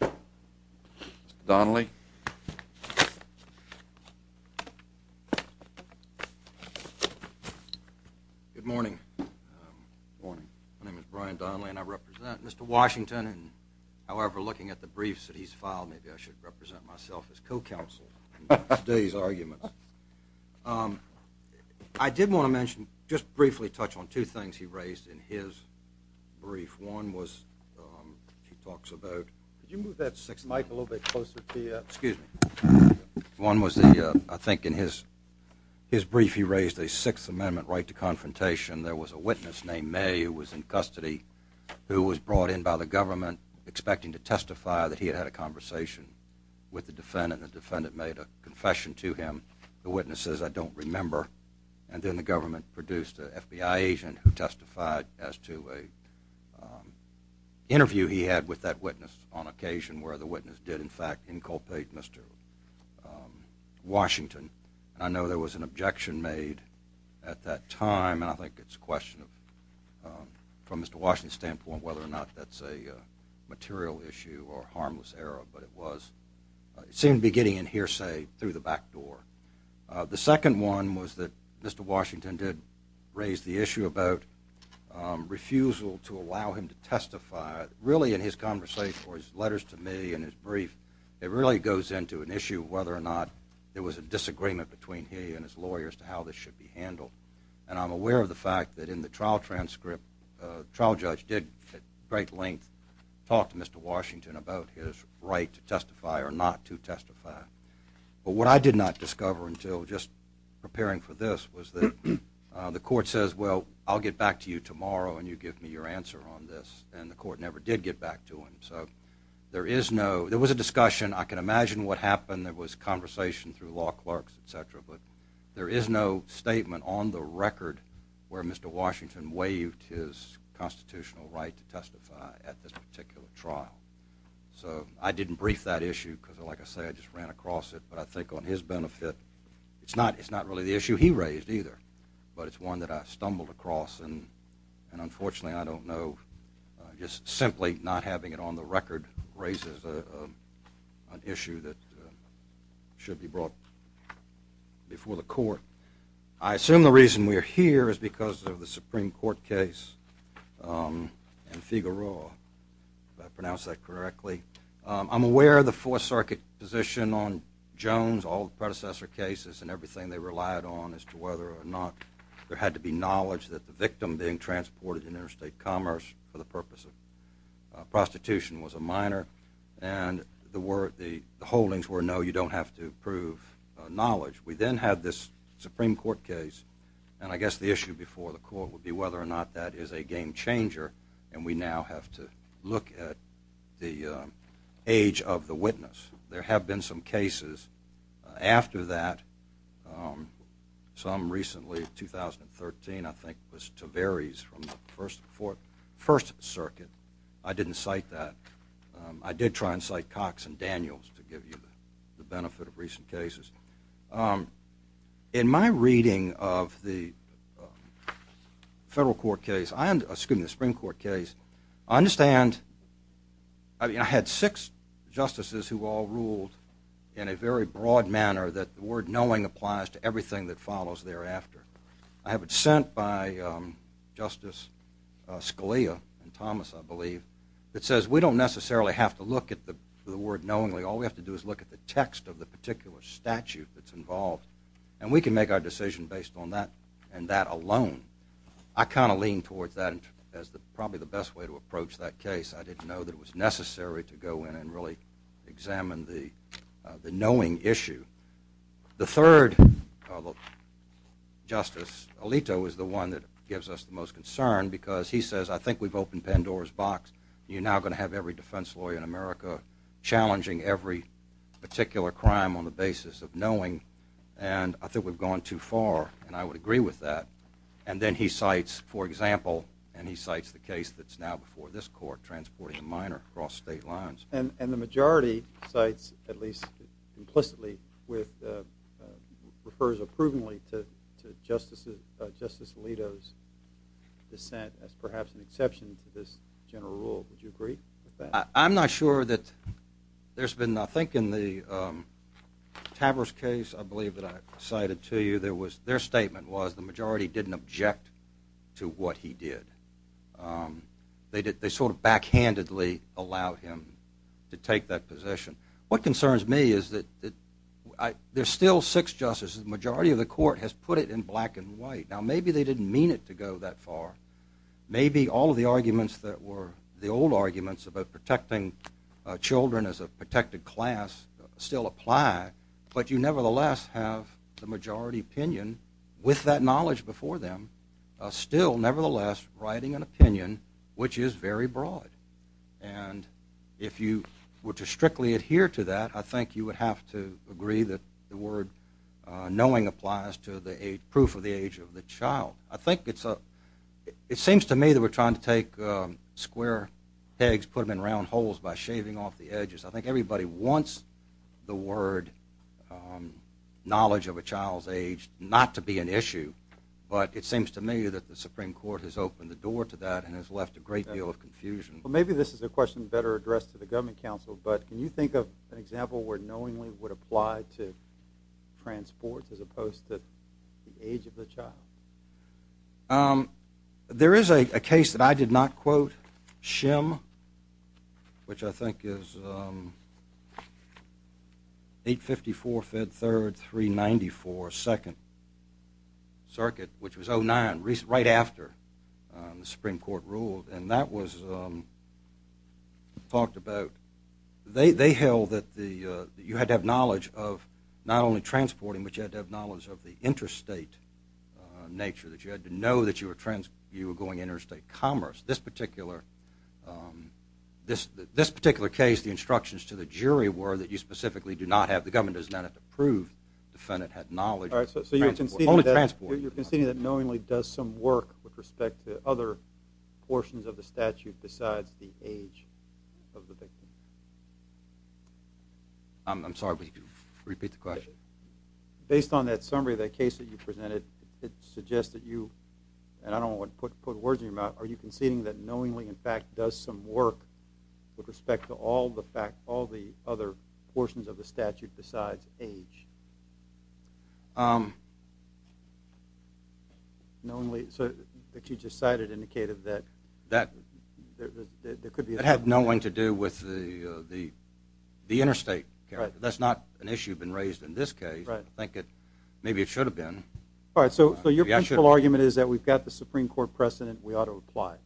Mr. Donnelly. Good morning. Good morning. My name is Brian Donnelly and I represent Mr. Washington. However, looking at the briefs that he's filed, maybe I should represent myself as co-counsel in today's argument. I did want to mention, just briefly touch on two things he raised in his brief. One was, he talks about, excuse me, one was the, I think in his brief he raised a Sixth Amendment right to confrontation. There was a witness named May who was in custody who was brought in by the government expecting to testify that he had had a conversation with the defendant. The defendant made a confession to him. The government produced an FBI agent who testified as to an interview he had with that witness on occasion where the witness did, in fact, inculpate Mr. Washington. I know there was an objection made at that time and I think it's a question from Mr. Washington's standpoint whether or not that's a material issue or harmless error, but it was, it seemed beginning in hearsay, through the back door. The second one was that Mr. Washington did raise the issue about refusal to allow him to testify. Really in his conversation, or his letters to me in his brief, it really goes into an issue of whether or not there was a disagreement between he and his lawyers to how this should be handled. And I'm aware of the fact that in the trial transcript, the trial judge did, at great length, talk to Mr. Washington about his right to testify or not to testify. But what I did not discover until just preparing for this was that the court says, well, I'll get back to you tomorrow and you give me your answer on this, and the court never did get back to him. So there is no, there was a discussion, I can imagine what happened, there was conversation through law clerks, etc., but there is no statement on the record where Mr. Washington waived his constitutional right to testify at this particular trial. So I didn't brief that issue, because like I said, I just ran across it, but I think on his benefit, it's not really the issue he raised either, but it's one that I stumbled across, and unfortunately I don't know, just simply not having it on the record raises an issue that should be brought before the court. I assume the reason we are here is because of the Supreme Court case in Figueroa, if I pronounced that correctly. I'm aware of the Fourth Circuit position on Jones, all the predecessor cases and everything they relied on as to whether or not there had to be knowledge that the victim being transported in interstate commerce for the purpose of prostitution was a minor, and the holdings were, no, you don't have to prove knowledge. We then had this Supreme Court case, and I guess the issue before the court would be whether or not that is a game changer, and we now have to look at the age of the witness. There have been some cases after that, some recently, 2013, I think, was Taveres from the First Circuit. I didn't cite that. I did try and cite Cox and Daniels to give you the benefit of recent cases. In my reading of the Federal Court case, excuse me, the Supreme Court case, I understand, I had six justices who all ruled in a very broad manner that the word knowing applies to everything that follows thereafter. I have it sent by Justice Scalia and Thomas, I believe, that says we don't necessarily have to look at the word knowingly. All we have to do is look at the text of the particular statute that's involved, and we can make our decision based on that and that alone. I kind of lean towards that as probably the best way to approach that case. I didn't know that it was necessary to go in and really examine the knowing issue. The third justice, Alito, is the one that gives us the most concern because he says, I think we've opened Pandora's box. You're challenging every particular crime on the basis of knowing, and I think we've gone too far, and I would agree with that. And then he cites, for example, and he cites the case that's now before this court, transporting a minor across state lines. And the majority cites, at least implicitly, refers approvingly to Justice Alito's dissent as perhaps an exception to this general rule. Would you agree with that? I'm not sure that there's been, I think in the Tavers case, I believe that I cited to you, their statement was the majority didn't object to what he did. They sort of backhandedly allowed him to take that position. What concerns me is that there's still six justices. The majority of the court has put it in black and white. Now maybe they didn't mean it to go that far. Maybe all of the arguments that were the old arguments about protecting children as a protected class still apply, but you nevertheless have the majority opinion, with that knowledge before them, still nevertheless writing an opinion which is very broad. And if you were to strictly adhere to that, I think it's a, it seems to me that we're trying to take square pegs, put them in round holes by shaving off the edges. I think everybody wants the word knowledge of a child's age not to be an issue, but it seems to me that the Supreme Court has opened the door to that and has left a great deal of confusion. Well maybe this is a question better addressed to the government council, but can you think of an example where knowingly would apply to transports as opposed to the age of the child? There is a case that I did not quote, Shem, which I think is 854 Fed 3rd, 394 2nd Circuit, which was 09, right after the Supreme Court ruled, and that was talked about. They held that you had to have knowledge of the not only transporting, but you had to have knowledge of the interstate nature, that you had to know that you were going interstate commerce. This particular case, the instructions to the jury were that you specifically do not have, the government does not have to prove the defendant had knowledge of transport, only transport. So you're conceding that knowingly does some work with respect to other portions of the statute besides the age of the victim? I'm sorry, would you repeat the question? Based on that summary of that case that you presented, it suggests that you, and I don't want to put words in your mouth, are you conceding that knowingly in fact does some work with respect to all the other portions of the statute besides age? Knowingly, so that you just cited indicated that there could be... That had nothing to do with the interstate. That's not an issue that's been raised in this case. Maybe it should have been. Alright, so your principle argument is that we've got the Supreme Court precedent, we ought to apply.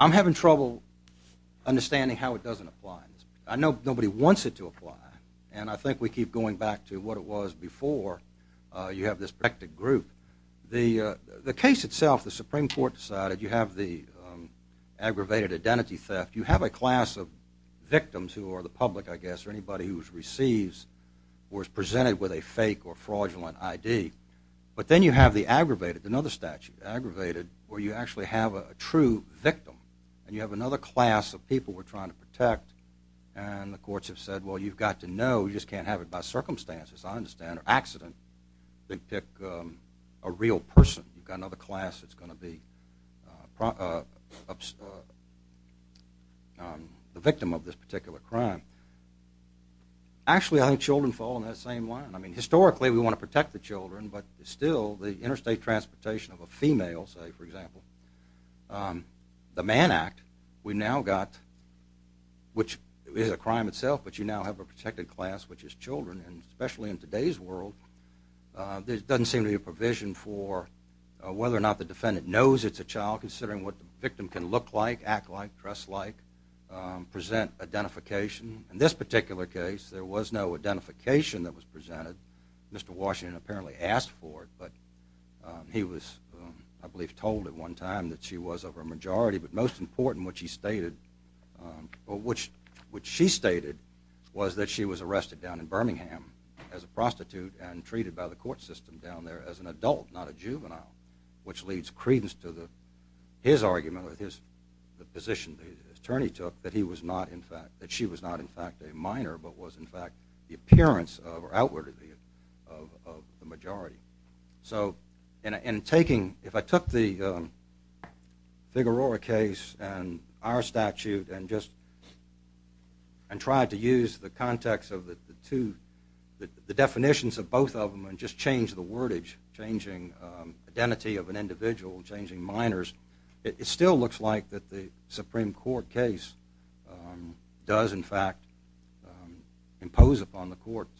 I'm having trouble understanding how it doesn't apply. I know nobody wants it to apply, and I think we keep going back to what it was before you have this protected group. The case itself, the Supreme Court decided you have the aggravated identity theft. You have a class of victims who are the public, I guess, or anybody who receives or is presented with a fake or fraudulent ID. But then you have the aggravated, another statute, aggravated, where you actually have a true victim. And you have another class of people we're trying to protect, and the courts have said, well, you've got to know, you just can't have it by circumstances, I understand, or accident. They pick a real person, you've got another class that's going to be the victim of this particular crime. Actually I think children fall in that same line. I mean, historically we want to protect the children, but still, the interstate transportation of a female, say for example, the Mann Act, we now got, which is a crime itself, but you now have a protected class, which is children, and especially in today's world, there doesn't seem to be a provision for whether or not the defendant knows it's a child, considering what the victim can look like, act like, dress like, present identification. In this particular case, there was no identification that was presented. Mr. Washington apparently asked for it, but he was, I believe, told at one time that she was of a majority, but most important, which he stated, which she stated, was that she was arrested down in Birmingham as a prostitute and treated by the court system down there as an adult, not a juvenile, which leads credence to his argument with his position the attorney took, that he was not in fact, that she was not in fact a minor, but was in fact the appearance of, or outwardly, of the majority. So, in taking, if I took the Aurora case and our statute and just, and tried to use the context of the two, the definitions of both of them and just change the wordage, changing identity of an individual, changing minors, it still looks like that the Supreme Court case does in fact impose upon the courts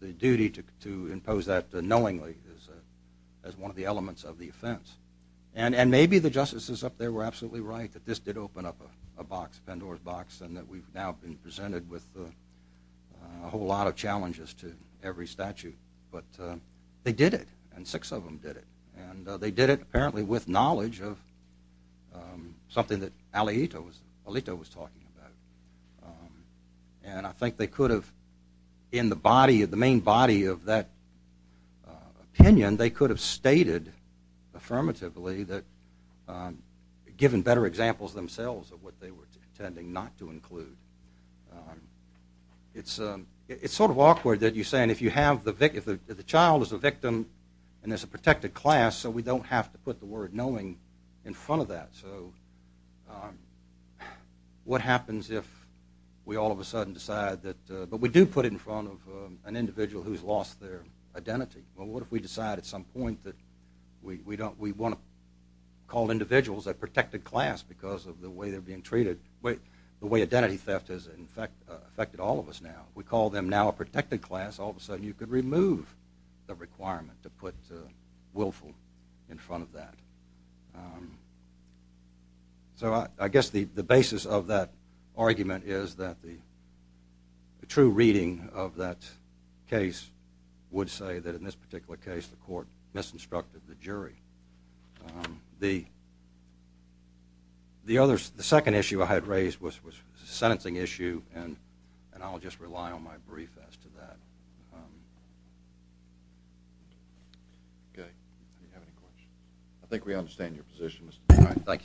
the duty to impose that knowingly as one of the elements of the offense. And maybe the attorney is absolutely right that this did open up a box, a Pandora's box, and that we've now been presented with a whole lot of challenges to every statute. But they did it, and six of them did it. And they did it apparently with knowledge of something that Alito was talking about. And I think they could have, in the body, the main body of that opinion, and they could have stated affirmatively that, given better examples themselves of what they were intending not to include. It's sort of awkward that you say, and if you have the victim, if the child is the victim, and there's a protected class, so we don't have to put the word knowing in front of that. So, what happens if we all of a sudden decide that, but we do put it in front of an individual who's lost their identity. Well, what if we decide at some point that we want to call individuals a protected class because of the way they're being treated, the way identity theft has affected all of us now. If we call them now a protected class, all of a sudden you could remove the requirement to put willful in front of that. So, I guess the basis of that argument is that the true reading of that case would say that, in this particular case, the court misinstructed the jury. The second issue I had raised was a sentencing issue, and I'll just rely on my brief as to that. Okay. Do you have any questions? I think we understand your position. All right. Thank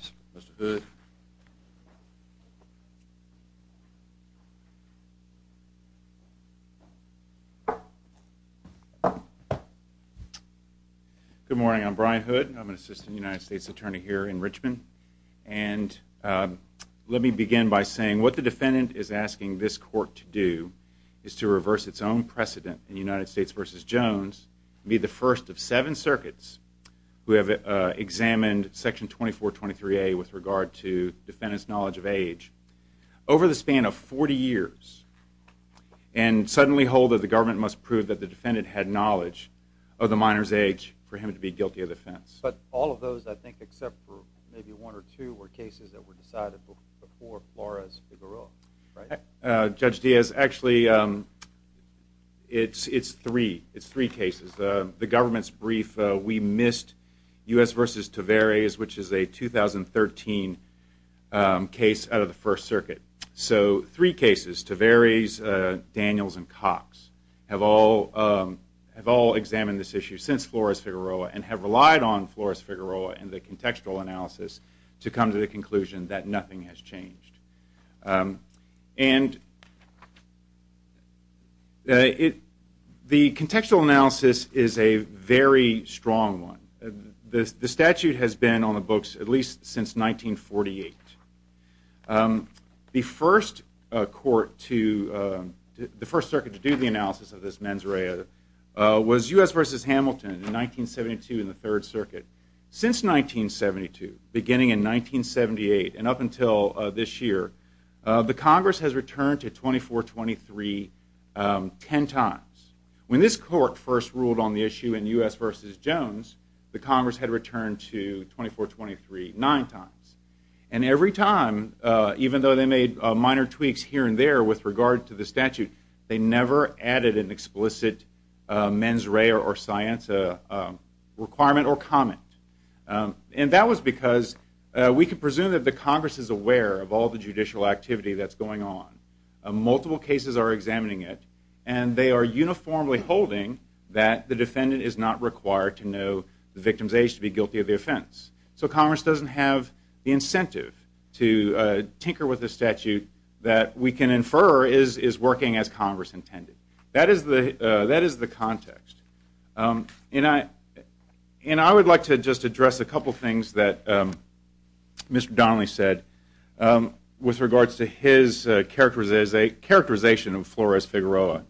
you. Good morning. I'm Brian Hood. I'm an assistant United States attorney here in Richmond, and let me begin by saying what the defendant is asking this court to do is to reverse its own precedent in United States v. Jones and be the first of seven circuits who have examined Section 2423A with regard to defendant's knowledge of age. Over the span of 40 years, and suddenly hold that the government must prove that the defendant had knowledge of the minor's age for him to be guilty of offense. But all of those, I think, except for maybe one or two, were cases that were decided before Flores-Figueroa, right? Judge Diaz, actually, it's three. It's three cases. The government's brief, we missed U.S. v. Tavares, which is a 2013 case out of the First Circuit. So three cases, Tavares, Daniels, and Cox, have all examined this issue since Flores-Figueroa and have relied on Flores-Figueroa and the contextual analysis to come to the conclusion that nothing has changed. And the contextual analysis is a very strong one. The statute has been on the books at least since 1948. The First Circuit to do the analysis of this mens rea was U.S. v. Hamilton in 1972 in the Third Circuit. Since 1972, beginning in 1978, and up until this year, the Congress has returned to 2423 ten times. When this Congress had returned to 2423, nine times. And every time, even though they made minor tweaks here and there with regard to the statute, they never added an explicit mens rea or science requirement or comment. And that was because we can presume that the Congress is aware of all the judicial activity that's going on. Multiple cases are examining it, and they are uniformly holding that the defendant is not required to know the victim's age to be guilty of the offense. So Congress doesn't have the incentive to tinker with the statute that we can infer is working as Congress intended. That is the context. And I would like to just address a couple things that Mr. Donnelly said with regards to his characterization of Flores Figueroa.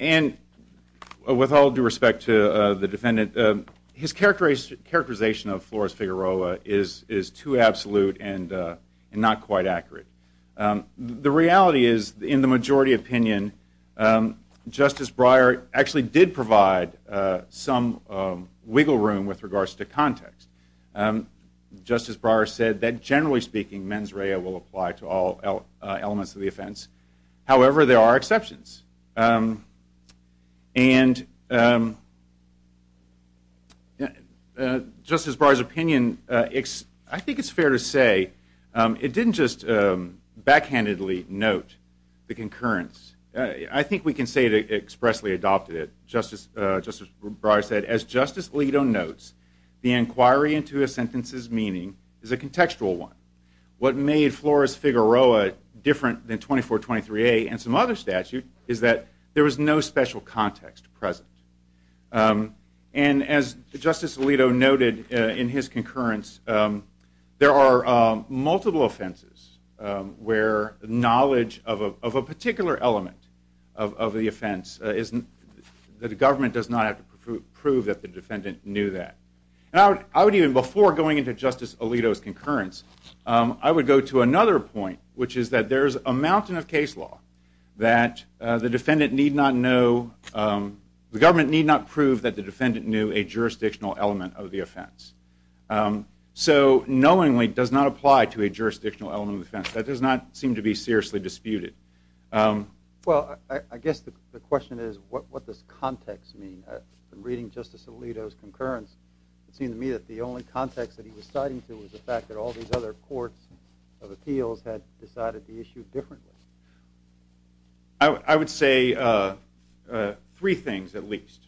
And with all due respect to the defendant, his characterization of Flores Figueroa is too absolute and not quite accurate. The reality is in the majority opinion, Justice Breyer actually did provide some wiggle room with regards to context. Justice Breyer said that generally speaking, mens rea will apply to all elements of the offense. However, there are exceptions. And Justice Breyer's opinion, I think it's fair to say, it didn't just backhandedly note the concurrence. I think we can say it expressly adopted it. Justice Breyer said, as Justice Alito notes, the inquiry into a sentence's meaning is a contextual one. What made Flores Figueroa different than 2423A and some other statute is that there was no special context present. And as Justice Alito noted in his concurrence, there are multiple offenses where knowledge of a particular element of the offense, the government does not have to prove that the defendant knew that. Before going into Justice Alito's concurrence, I would go to another point, which is that there is a mountain of case law that the government need not prove that the defendant knew a jurisdictional element of the offense. So knowingly does not apply to a jurisdictional element of the offense. That does not seem to be seriously disputed. Well, I guess the question is, what does context mean? Reading Justice Alito's concurrence, it seemed to me that the only context that he was citing to was the fact that all these other courts of appeals had decided to issue differently. I would say three things, at least.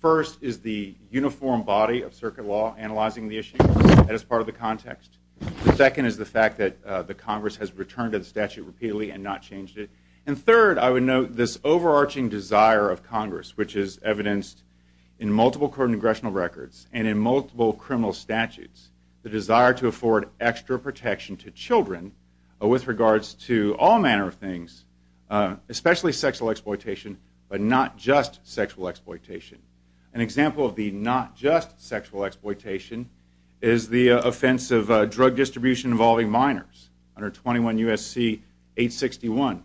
First is the uniform body of circuit law analyzing the issue. That is part of the context. The second is the fact that the Congress has returned to the statute repeatedly and not changed it. And third, I would note this overarching desire of Congress, which is evidenced in multiple congressional records and in multiple criminal statutes, the desire to afford extra protection to children with regards to all manner of things, especially sexual exploitation, but not just sexual exploitation. An example of the not just sexual exploitation is the offense of drug distribution involving minors under 21 U.S.C. 861.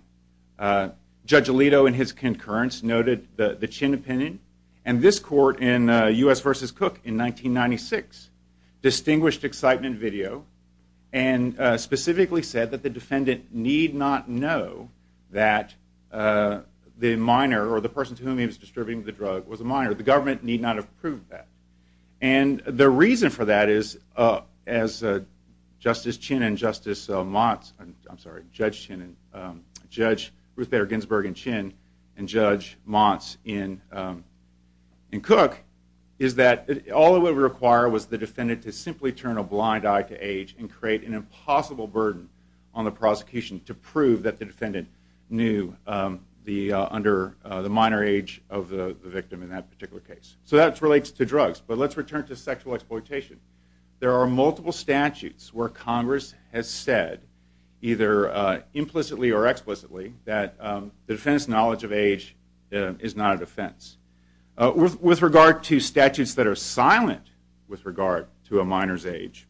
Judge Alito in his concurrence noted the Chin opinion. And this court in U.S. v. Cook in 1996 distinguished excitement video and specifically said that the defendant need not know that the minor or the person to whom he was distributing the drug was a minor. The government need not have proved that. And the reason for that is, as Justice Chin and Justice Motz, I'm sorry, Judge Chin and Judge Ruth Bader Ginsburg in Chin and Judge Motz in Cook, is that all it would require was the defendant to simply turn a blind eye to age and create an impossible burden on the prosecution to prove that the defendant knew under the minor age of the victim in that particular case. So that relates to drugs. But let's return to sexual exploitation. There are multiple statutes where Congress has said either implicitly or explicitly that the defendant's knowledge of age is not a defense. With regard to statutes that are silent with regard to a minor's age,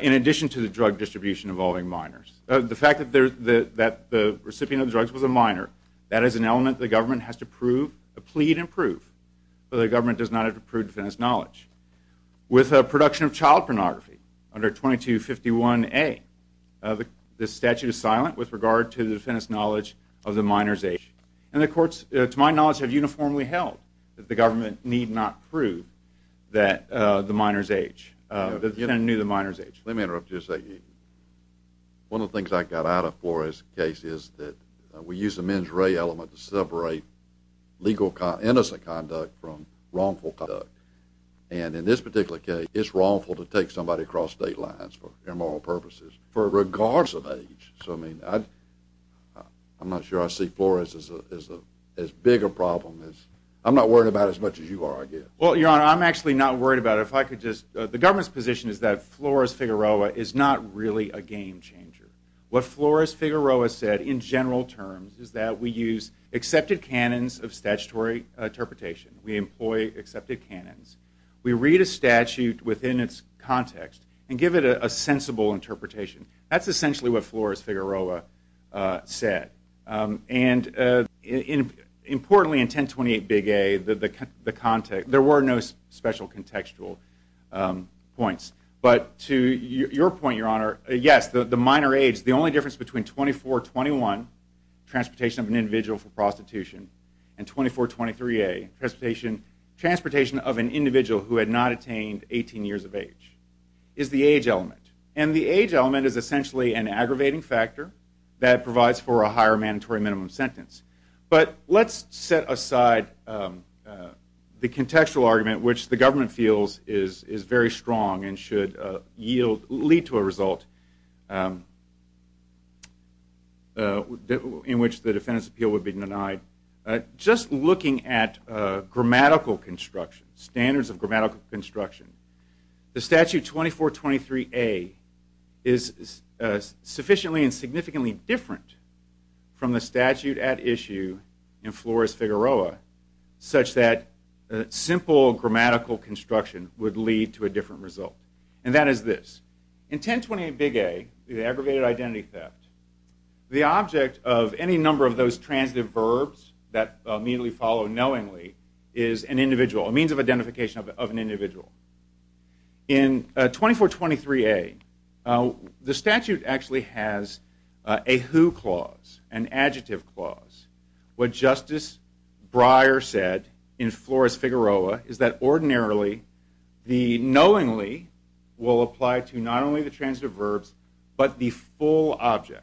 in addition to the drug distribution involving minors, the fact that the recipient of the drugs was a minor, that is an element the government has to prove, plead and prove, that the government does not have to prove the defendant's knowledge. With the production of child pornography under 2251A, the statute is silent with regard to the defendant's knowledge of the minor's age. And the courts, to my knowledge, have uniformly held that the government need not prove that the minor's age, that the defendant knew the minor's age. Let me interrupt you a second. One of the things I got out of Flores' case is that we use the mens rea element to separate legal innocent conduct from wrongful conduct. And in this particular case, it's wrongful to take somebody across state lines for moral purposes for regards of age. So I mean, I'm not sure I see Flores as a bigger problem. I'm not worried about it as much as you are, I guess. Well, Your Honor, I'm actually not worried about it. The government's position is that a game changer. What Flores-Figueroa said, in general terms, is that we use accepted canons of statutory interpretation. We employ accepted canons. We read a statute within its context and give it a sensible interpretation. That's essentially what Flores-Figueroa said. And importantly, in 1028 Big A, the context, there were no special contextual points. But to your point, Your Honor, yes, the minor age, the only difference between 2421, transportation of an individual for prostitution, and 2423A, transportation of an individual who had not attained 18 years of age, is the age element. And the age element is essentially an aggravating factor that provides for a higher mandatory minimum sentence. But let's set aside the contextual argument, which the government feels is very strong and should lead to a result in which the defendant's appeal would be denied. Just looking at grammatical construction, standards of grammatical construction, the statute 2423A is sufficiently and significantly different from the statute at issue in Flores-Figueroa, such that simple grammatical construction would lead to a different result. And that is this. In 1028 Big A, the aggravated identity theft, the object of any number of those transitive verbs that immediately follow knowingly is an individual, a means of identification of an individual. In 2423A, the statute actually has a who clause, an adjective clause. What Justice Breyer said in Flores-Figueroa is that ordinarily, the knowingly will apply to not only the transitive verbs, but the full object.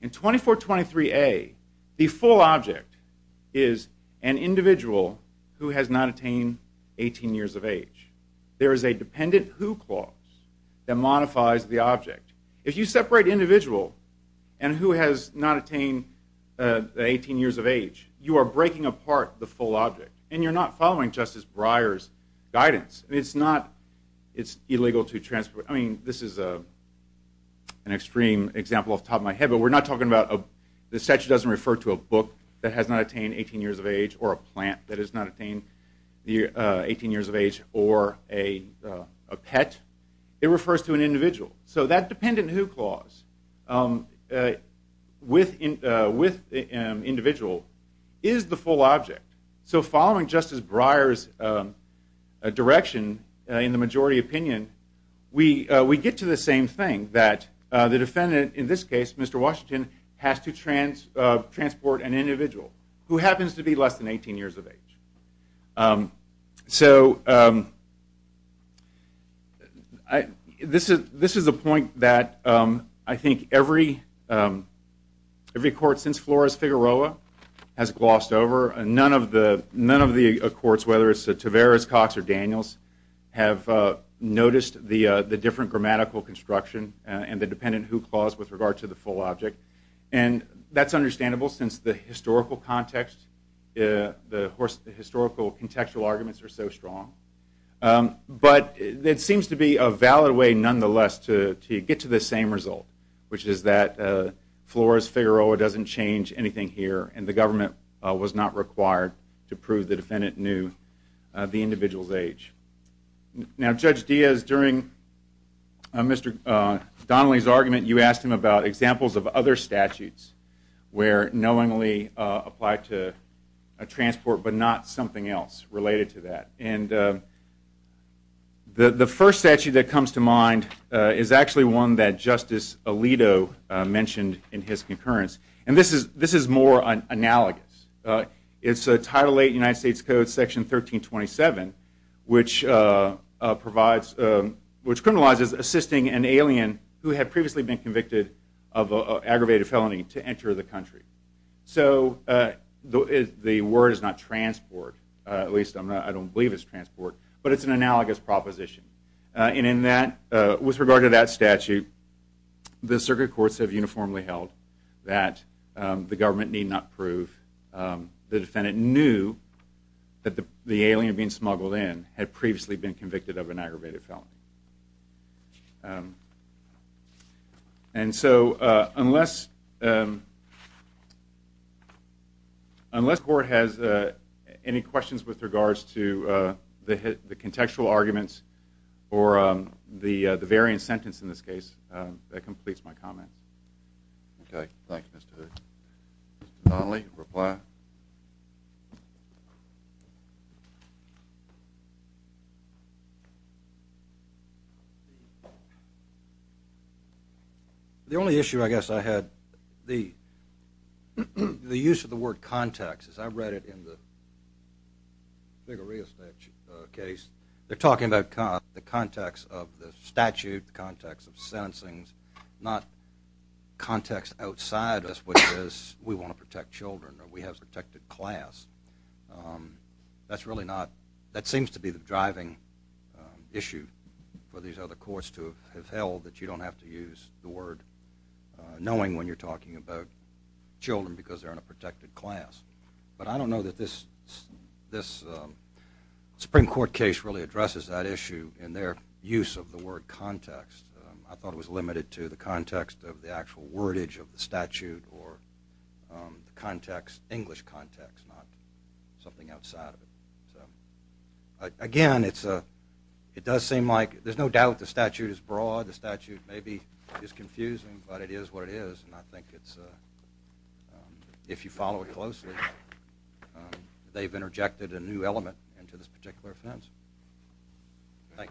In 2423A, the full object is an individual who has not attained 18 years of age. There is a dependent who clause that modifies the object. If you separate individual and who has not attained 18 years of age, you are breaking apart the full object and you're not following Justice Breyer's guidance. This is an extreme example off the top of my head, but the statute doesn't refer to a book that has not attained 18 years of age or a plant that has not attained 18 years of age or a pet. It refers to an individual. That dependent who clause with individual is the full object. So following Justice Breyer's direction in the majority opinion, we get to the same thing that the defendant, in this case Mr. Washington, has to transport an individual who happens to be less than 18 years of age. This is a point that I think every court since Flores-Figueroa has glossed over. None of the courts, whether it's Taveras, Cox, or Daniels, have noticed the different grammatical construction and the dependent who clause with regard to the full object. That's understandable since the historical contextual arguments are so strong, but it seems to be a valid way nonetheless to get to the same result, which is that Flores-Figueroa doesn't change anything here and the government was not required to prove the defendant knew the individual's age. Now Judge Diaz, during Mr. Donnelly's argument, you asked him about examples of other statutes where knowingly applied to a transport but not something else related to that. The first statute that comes to mind is actually one that Justice Alito mentioned in his concurrence. This is more analogous. It's a Title VIII United States Code Section 1327, which criminalizes assisting an alien who had previously been convicted of an act of aggravated felony to enter the country. So the word is not transport, at least I don't believe it's transport, but it's an analogous proposition. With regard to that statute, the circuit courts have uniformly held that the government need not prove the defendant knew that the alien being smuggled in had previously been convicted of an aggravated felony. So unless the court has any questions with regards to the contextual arguments or the variant sentence in this case, that completes my comments. The only issue I guess I had, the use of the word context, as I read it in the Vigoria case, they're talking about the context of the statute, the context of sentencing, not context outside us, which is we want to protect children or we have a protected class. That's really not, that seems to be the driving issue for these other courts to have held that you don't have to use the word knowing when you're talking about children because they're in a protected class. But I don't know that this Supreme Court case really addresses that issue in their use of the word context. I thought it was limited to the context of the actual wordage of the statute or the context, English context, not something outside of it. Again, it does seem like, there's no doubt the statute is broad, the statute maybe is confusing, but it is what it is and I think it's, if you follow it closely, they've interjected a new element into this particular offense. Thank you.